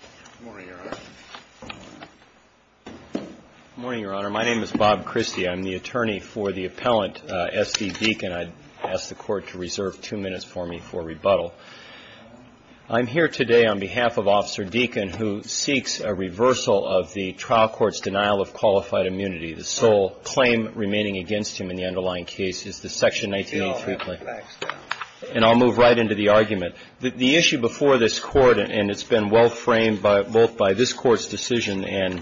Good morning, Your Honor. My name is Bob Christie. I'm the attorney for the appellant, S.D. Deakin. I'd ask the Court to reserve two minutes for me for rebuttal. I'm here today on behalf of Officer Deakin, who seeks a reversal of the trial court's denial of qualified immunity. The sole claim remaining against him in the underlying case is the Section 1983 claim. And I'll move right into the argument. The issue before this Court, and it's been well-framed, both by this Court's decision and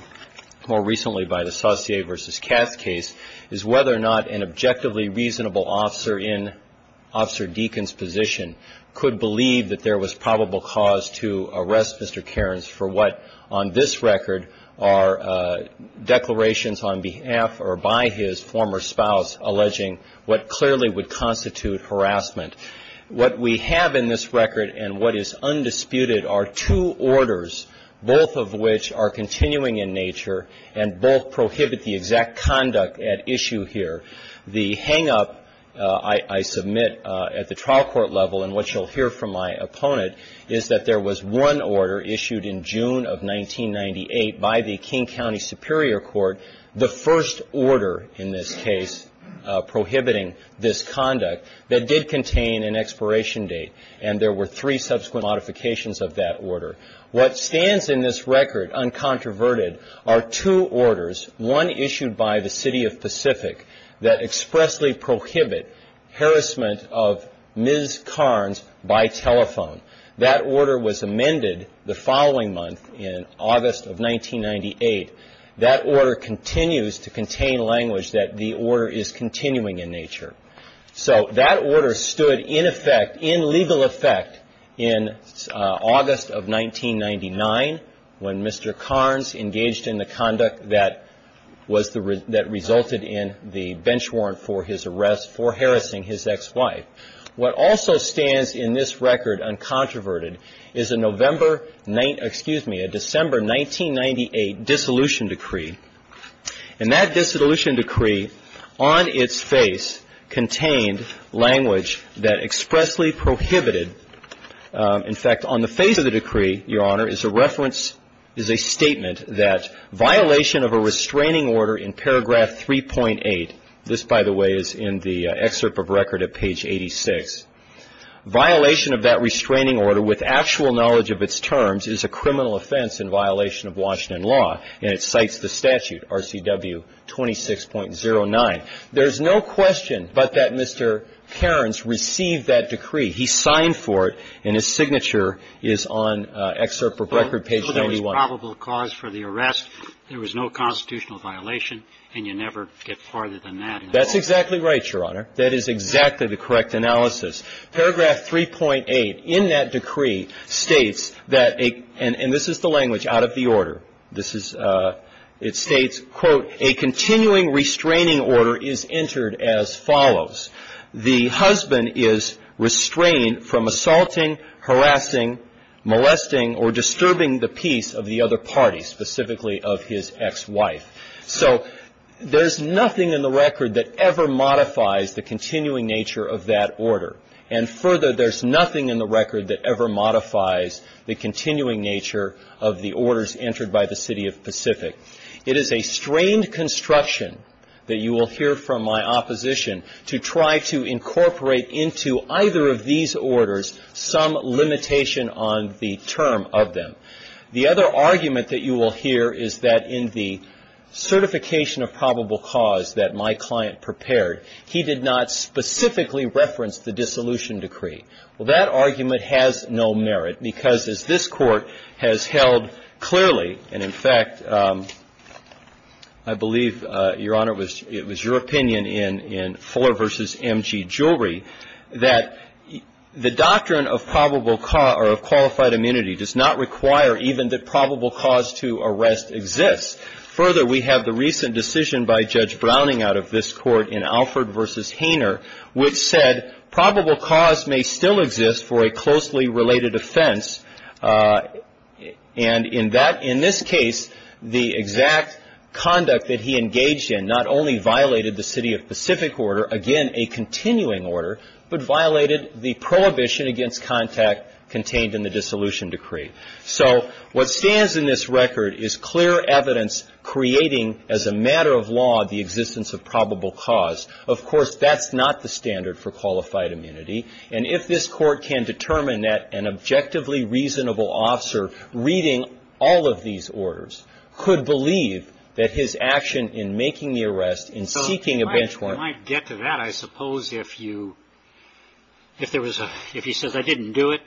more recently by the Saucier v. Cass case, is whether or not an objectively reasonable officer in Officer Deakin's position could believe that there was probable cause to arrest Mr. Cairnes for what, on this record, are declarations on behalf or by his former spouse alleging what clearly would constitute harassment. What we have in this record and what is undisputed are two orders both of which are continuing in nature and both prohibit the exact conduct at issue here. The hang-up I submit at the trial court level and what you'll hear from my opponent is that there was one order issued in June of 1998 by the King County Superior Court, the first order in this case, prohibiting this conduct, that did contain an expiration date, and there were three subsequent modifications of that order. What stands in this record, uncontroverted, are two orders, one issued by the City of Pacific, that expressly prohibit harassment of Ms. Cairnes by telephone. That order was amended the following month in August of 1998. That order continues to contain language that the order is continuing in nature. So that order stood in effect, in legal effect, in August of 1998. And that order was amended in December of 1999 when Mr. Cairnes engaged in the conduct that was the, that resulted in the bench warrant for his arrest for harassing his ex-wife. What also stands in this record, uncontroverted, is a November, excuse me, a December 1998 dissolution decree. And that dissolution decree on its face contained language that expressly prohibited, in fact, on the face of the decree, Your Honor, is a reference, is a statement that violation of a restraining order in paragraph 3.8, this by the way is in the excerpt of record at page 86, violation of that restraining order with actual knowledge of its terms is a criminal offense in violation of Washington law. And it cites the statute, RCW 26.09. There's no question but that Mr. Cairnes received that decree. He signed for it, and his signature is on excerpt of record page 91. So there was probable cause for the arrest, there was no constitutional violation, and you never get farther than that in the court? It states, quote, a continuing restraining order is entered as follows. The husband is restrained from assaulting, harassing, molesting, or disturbing the peace of the other party, specifically of his ex-wife. So there's nothing in the record that ever modifies the continuing nature of that order. And further, there's nothing in the record that ever modifies the continuing nature of the orders entered by the city of Pacific. It is a strained construction that you will hear from my opposition to try to incorporate into either of these orders some limitation on the term of them. The other argument that you will hear is that in the certification of probable cause that my client prepared, he did not specifically reference the dissolution decree. Well, that argument has no merit, because as this Court has held clearly, and in fact, I believe, Your Honor, it was your opinion in Fuller v. M.G. Jewelry that the doctrine of probable cause, or of qualified immunity, does not require even that probable cause to arrest exists. Further, we have the recent decision by Judge Browning out of this Court in Alford v. Hainer, which said probable cause may still exist for a closely related offense, and in that, in this case, the exact conduct that he engaged in not only violated the city of Pacific order, again, a continuing order, but violated the prohibition against contact contained in the dissolution decree. So what stands in this record is clear evidence creating, as a matter of law, the existence of probable cause. Of course, that's not the standard for qualified immunity, and if this Court can determine that an objectively reasonable officer reading all of these orders could believe that his action in making the arrest, in seeking a bench warrant — Well, if he didn't do it,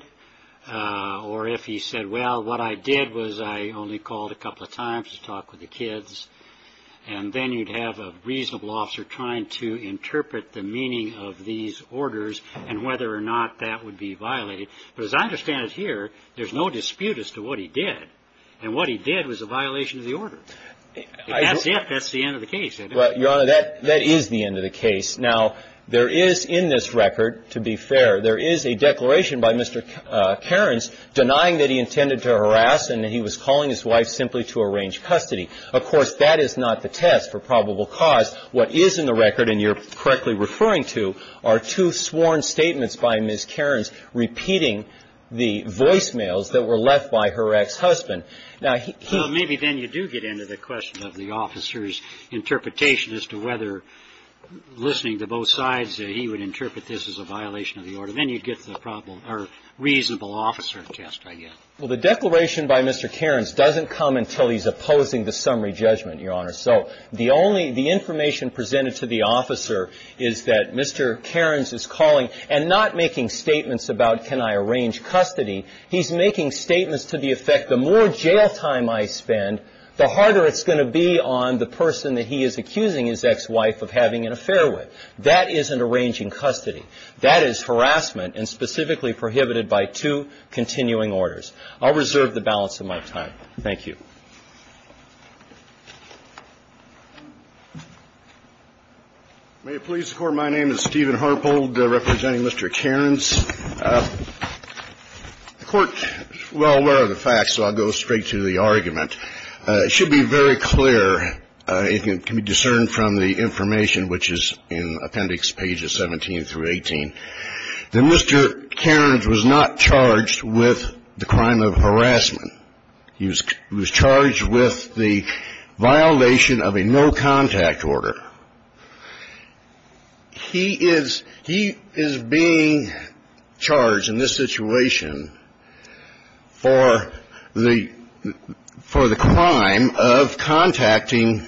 or if he said, well, what I did was I only called a couple of times to talk with the kids, and then you'd have a reasonable officer trying to interpret the meaning of these orders and whether or not that would be violated. But as I understand it here, there's no dispute as to what he did, and what he did was a violation of the order. If that's it, that's the end of the case, isn't it? Well, Your Honor, that is the end of the case. Now, there is in this record, to be fair, there is a declaration by Mr. Cairns denying that he intended to harass and that he was calling his wife simply to arrange custody. Of course, that is not the test for probable cause. What is in the record, and you're correctly referring to, are two sworn statements by Ms. Cairns repeating the voicemails that were left by her ex-husband. So maybe then you do get into the question of the officer's interpretation as to whether, listening to both sides, that he would interpret this as a violation of the order. Then you get the problem — or reasonable officer test, I guess. Well, the declaration by Mr. Cairns doesn't come until he's opposing the summary judgment, Your Honor. So the only — the information presented to the officer is that Mr. Cairns is calling and not making statements about can I arrange custody. He's making statements to the effect, the more jail time I spend, the harder it's going to be on the person that he is accusing his ex-wife of having an affair with. That isn't arranging custody. That is harassment and specifically prohibited by two continuing orders. I'll reserve the balance of my time. Thank you. May it please the Court, my name is Stephen Harpold, representing Mr. Cairns. The Court is well aware of the facts, so I'll go straight to the argument. It should be very clear, it can be discerned from the information which is in Appendix Pages 17 through 18, that Mr. Cairns was not charged with the crime of harassment. He was charged with the violation of a no-contact order. He is — he is being charged in this situation for the — for the crime of contacting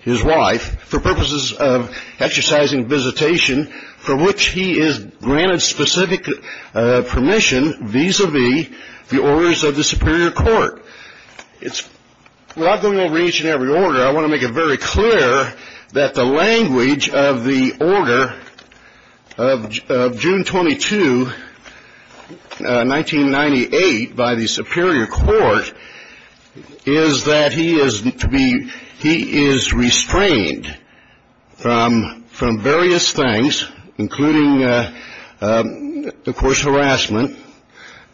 his wife for purposes of exercising visitation for which he is granted specific permission vis-a-vis the orders of the superior court. It's — without going over each and every order, I want to make it very clear that the language of the order of June 22, 1998, by the superior court is that he is to be — he is restrained from various things, including, of course, harassment.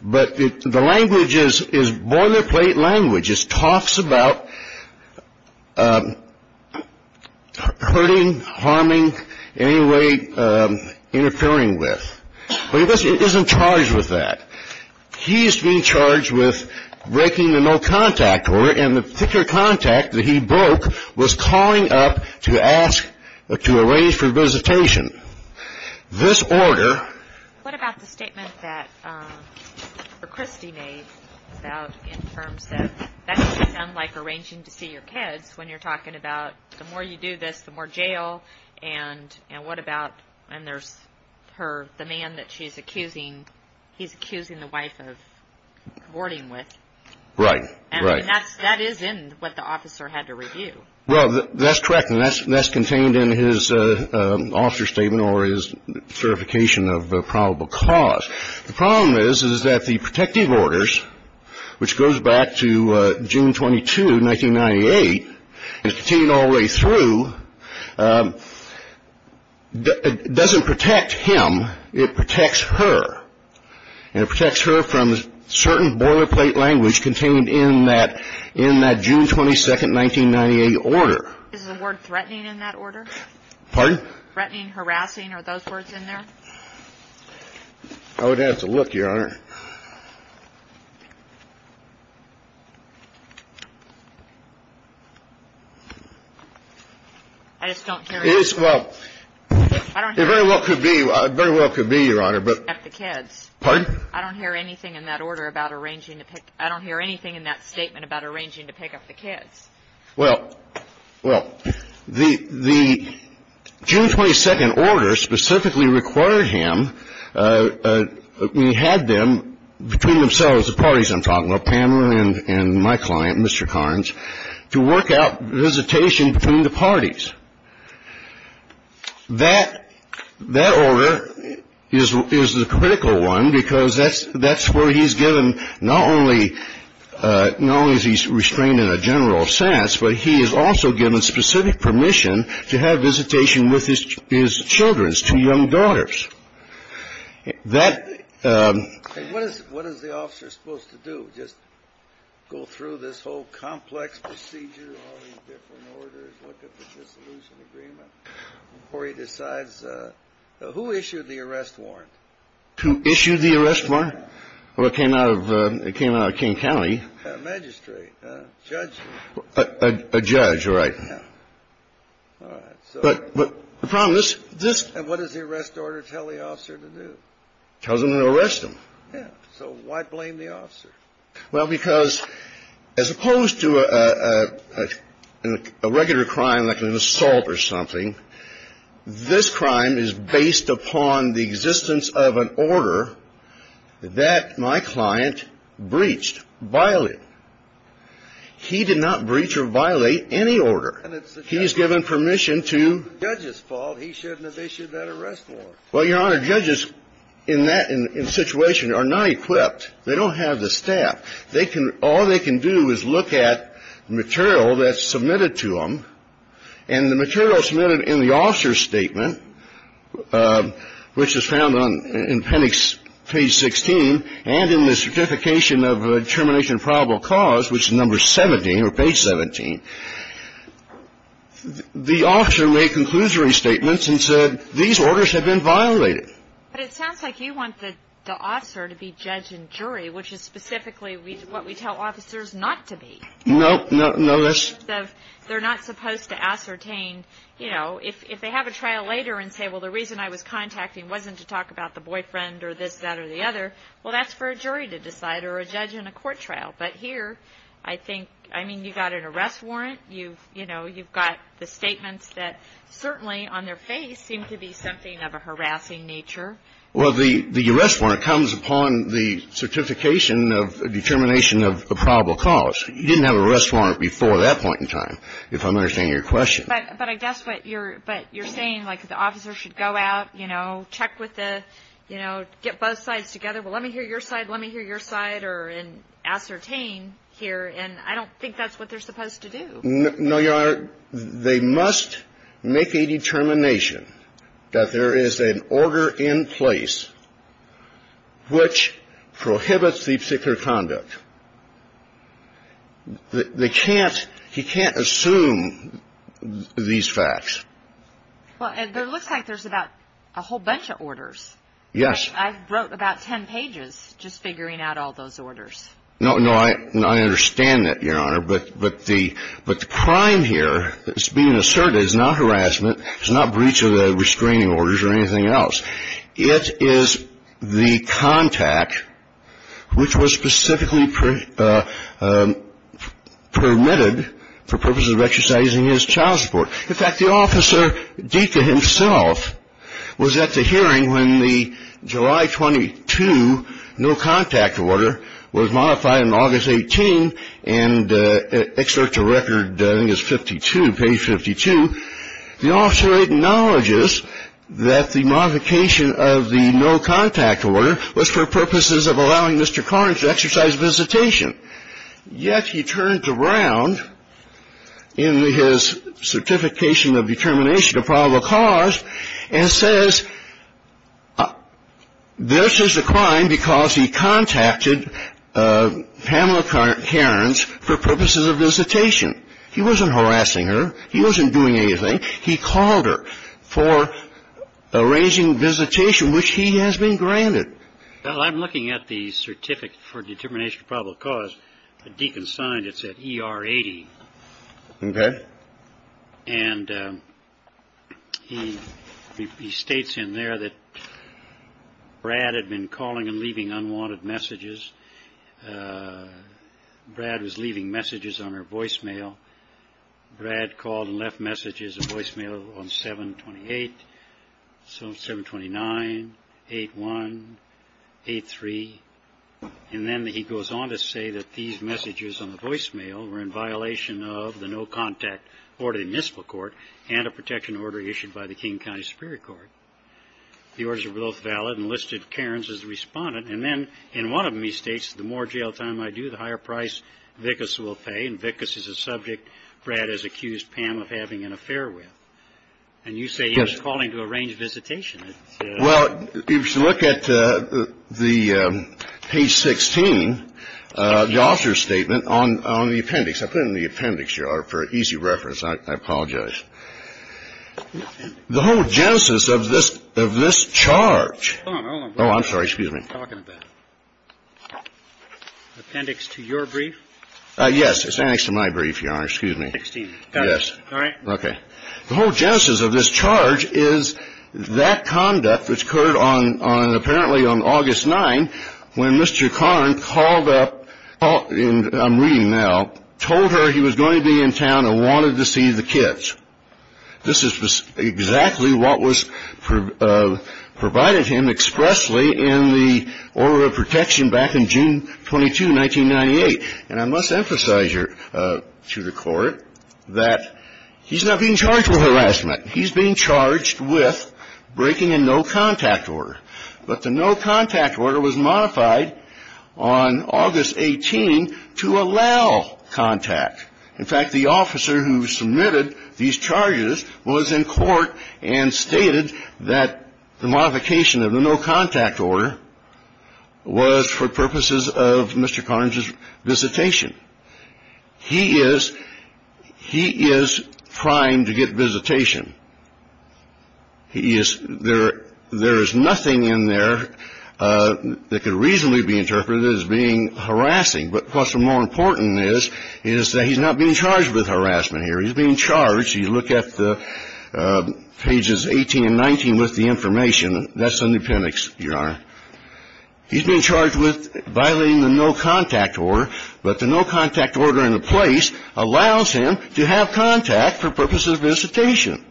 But the language is — is boilerplate language. It talks about hurting, harming, in any way interfering with, but he isn't charged with that. He is being charged with breaking the no-contact order, and the particular contact that he broke was calling up to ask — to arrange for visitation. This order — What about the statement that — that Christy made about — in terms of — that doesn't sound like arranging to see your kids when you're talking about the more you do this, the more jail, and what about — and there's her — the man that she's accusing — he's accusing the wife of aborting with. Right. Right. And that's — that is in what the officer had to review. Well, that's correct, and that's — that's contained in his officer's statement or his certification of probable cause. The problem is, is that the protective orders, which goes back to June 22, 1998, and is contained all the way through, doesn't protect him. It protects her, and it protects her from certain boilerplate language contained in that — in that June 22, 1998 order. Is the word threatening in that order? Pardon? Threatening, harassing, are those words in there? I would have to look, Your Honor. I just don't hear you. It is — well, it very well could be — very well could be, Your Honor, but — I don't hear anything in that order about arranging to pick up the kids. Pardon? I don't hear anything in that statement about arranging to pick up the kids. Well, well, the — the June 22 order specifically required him — we had them between themselves, the parties I'm talking about, Pamela and my client, Mr. Carnes, to work out visitation between the parties. That — that order is the critical one because that's where he's given not only — not only is he restrained in a general sense, but he is also given specific permission to have visitation with his children, his two young daughters. That — And what is — what is the officer supposed to do, just go through this whole complex procedure, all these different orders, look at the dissolution agreement, before he decides — who issued the arrest warrant? Who issued the arrest warrant? Well, it came out of — it came out of King County. A magistrate, a judge. A judge, all right. Yeah. All right. But — but the problem is, this — And what does the arrest order tell the officer to do? Tells him to arrest him. Yeah. So why blame the officer? Well, because as opposed to a — a — a regular crime like an assault or something, this crime is based upon the existence of an order that my client breached, violated. He did not breach or violate any order. And it's the judge's fault. He's given permission to — It's the judge's fault. He shouldn't have issued that arrest warrant. Well, Your Honor, judges in that — in a situation are not equipped. They don't have the staff. They can — all they can do is look at material that's submitted to them. And the material submitted in the officer's statement, which is found on — in appendix — page 16, and in the Certification of Termination of Probable Cause, which is number 17, or page 17, the officer made conclusory statements and said, these orders have been violated. But it sounds like you want the — the officer to be judge and jury, which is specifically what we tell officers not to be. Nope. No, that's — They're not supposed to ascertain, you know, if — if they have a trial later and say, well, the reason I was contacting wasn't to talk about the boyfriend or this, that, or the other, well, that's for a jury to decide or a judge in a court trial. But here, I think — I mean, you've got an arrest warrant. You've — you know, you've got the statements that certainly on their face seem to be something of a harassing nature. Well, the arrest warrant comes upon the certification of determination of a probable cause. You didn't have an arrest warrant before that point in time, if I'm understanding your question. But I guess what you're — but you're saying, like, the officer should go out, you know, check with the — you know, get both sides together, well, let me hear your side, let me hear your side, or — and ascertain here. And I don't think that's what they're supposed to do. No, Your Honor, they must make a determination that there is an order in place which prohibits the particular conduct. They can't — he can't assume these facts. Well, it looks like there's about a whole bunch of orders. Yes. I wrote about 10 pages just figuring out all those orders. No, no, I understand that, Your Honor. But the crime here that's being asserted is not harassment, it's not breach of the restraining orders or anything else. It is the contact which was specifically permitted for purposes of exercising his child support. In fact, the officer, Deacon himself, was at the hearing when the July 22 no-contact order was modified on August 18, and excerpt to record, I think it's 52, page 52, the officer acknowledges that the modification of the no-contact order was for purposes of allowing Mr. Carnes to exercise visitation. Yet he turned around in his certification of determination of probable cause and says, this is a crime because he contacted Pamela Carnes for purposes of visitation. He wasn't harassing her. He wasn't doing anything. He called her for arranging visitation, which he has been granted. Well, I'm looking at the certificate for determination of probable cause. Deacon signed it, said E.R. 80. OK. And he states in there that Brad had been calling and leaving unwanted messages. Brad was leaving messages on her voicemail. Brad called and left messages, a voicemail on 7-28, 7-29, 8-1, 8-3. And then he goes on to say that these messages on the voicemail were in violation of the no-contact order in the municipal court and a protection order issued by the King County Superior Court. The orders were both valid and listed Carnes as the respondent. And then in one of them he states, the more jail time I do, the higher price Vickas will pay. And Vickas is a subject Brad has accused Pam of having an affair with. And you say he was calling to arrange visitation. Well, if you look at the page 16, the officer's statement on the appendix. I put it in the appendix for easy reference. I apologize. The whole genesis of this charge. Oh, I'm sorry. Excuse me. Appendix to your brief. Yes. It's the appendix to my brief, Your Honor. Excuse me. 16. Yes. All right. Okay. The whole genesis of this charge is that conduct which occurred on apparently on August 9 when Mr. Carnes called up and I'm reading now, told her he was going to be in town and wanted to see the kids. This is exactly what was provided him expressly in the order of protection back in June 22, 1998. And I must emphasize to the Court that he's not being charged with harassment. He's being charged with breaking a no-contact order. But the no-contact order was modified on August 18 to allow contact. In fact, the officer who submitted these charges was in court and stated that the modification of the no-contact order was for purposes of Mr. Carnes's visitation. He is primed to get visitation. There is nothing in there that could reasonably be interpreted as being harassing. But what's more important is that he's not being charged with harassment here. He's being charged. You look at pages 18 and 19 with the information. That's the new appendix, Your Honor. He's being charged with violating the no-contact order. But the no-contact order in the place allows him to have contact for purposes of visitation.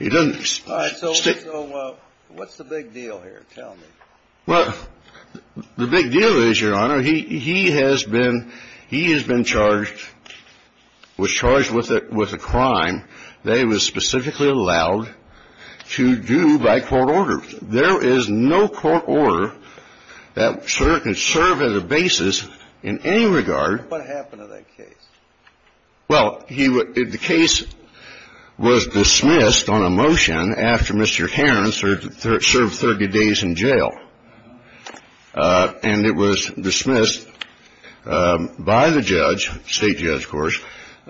All right. So what's the big deal here? Tell me. Well, the big deal is, Your Honor, he has been charged with a crime that he was specifically allowed to do by court order. There is no court order that can serve as a basis in any regard. What happened to that case? Well, the case was dismissed on a motion after Mr. Carnes served 30 days in jail. And it was dismissed by the judge, state judge, of course,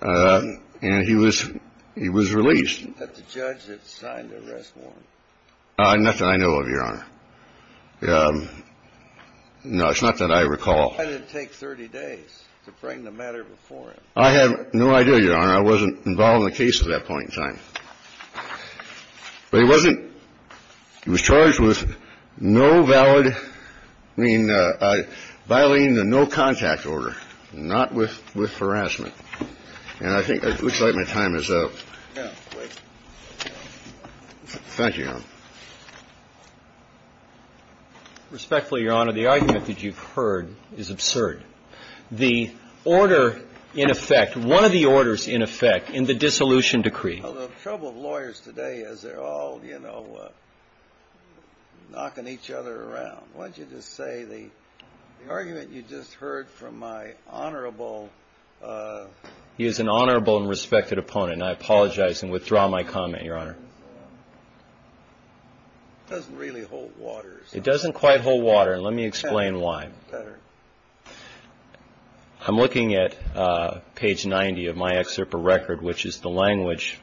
and he was released. But the judge had signed the arrest warrant. Nothing I know of, Your Honor. No, it's not that I recall. Why did it take 30 days to bring the matter before him? I have no idea, Your Honor. I wasn't involved in the case at that point in time. But he wasn't – he was charged with no valid – I mean, violating the no-contact order, not with harassment. And I think – it looks like my time is up. No, wait. Thank you, Your Honor. Respectfully, Your Honor, the argument that you've heard is absurd. The order in effect – one of the orders in effect in the dissolution decree – Well, the trouble with lawyers today is they're all, you know, knocking each other around. Why don't you just say the argument you just heard from my honorable – He is an honorable and respected opponent, and I apologize and withdraw my comment, Your Honor. It doesn't really hold water. It doesn't quite hold water, and let me explain why. It's better. I'm looking at page 90 of my excerpt of record, which is the language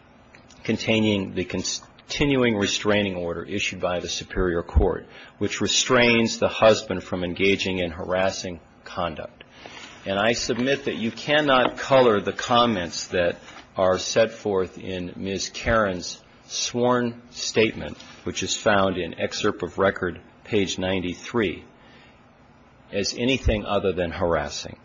containing the continuing restraining order issued by the Superior Court, which restrains the husband from engaging in harassing conduct. And I submit that you cannot color the comments that are set forth in Ms. Karen's sworn statement, which is found in excerpt of record, page 93, as anything other than harassing.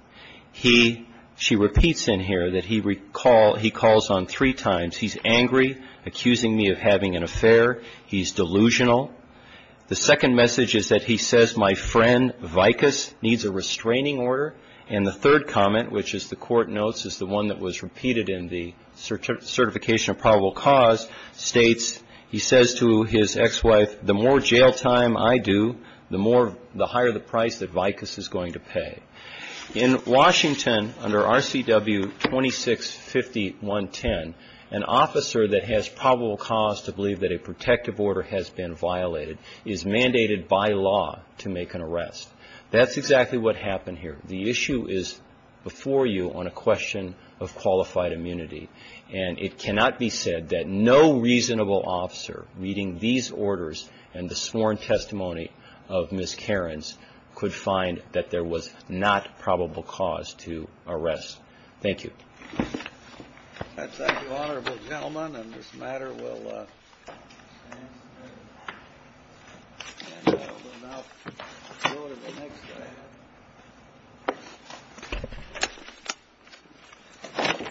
He – she repeats in here that he calls on three times. He's angry, accusing me of having an affair. He's delusional. The second message is that he says my friend, Vicus, needs a restraining order. And the third comment, which is the court notes is the one that was repeated in the certification of probable cause, states – he says to his ex-wife, the more jail time I do, the more – the higher the price that Vicus is going to pay. In Washington, under RCW 265110, an officer that has probable cause to believe that a protective order has been violated is mandated by law to make an arrest. That's exactly what happened here. The issue is before you on a question of qualified immunity. And it cannot be said that no reasonable officer reading these orders and the sworn testimony of Ms. Vicus is not probable cause to arrest. Thank you. That's it, honorable gentleman. And this matter will stand. And I will now go to the next item.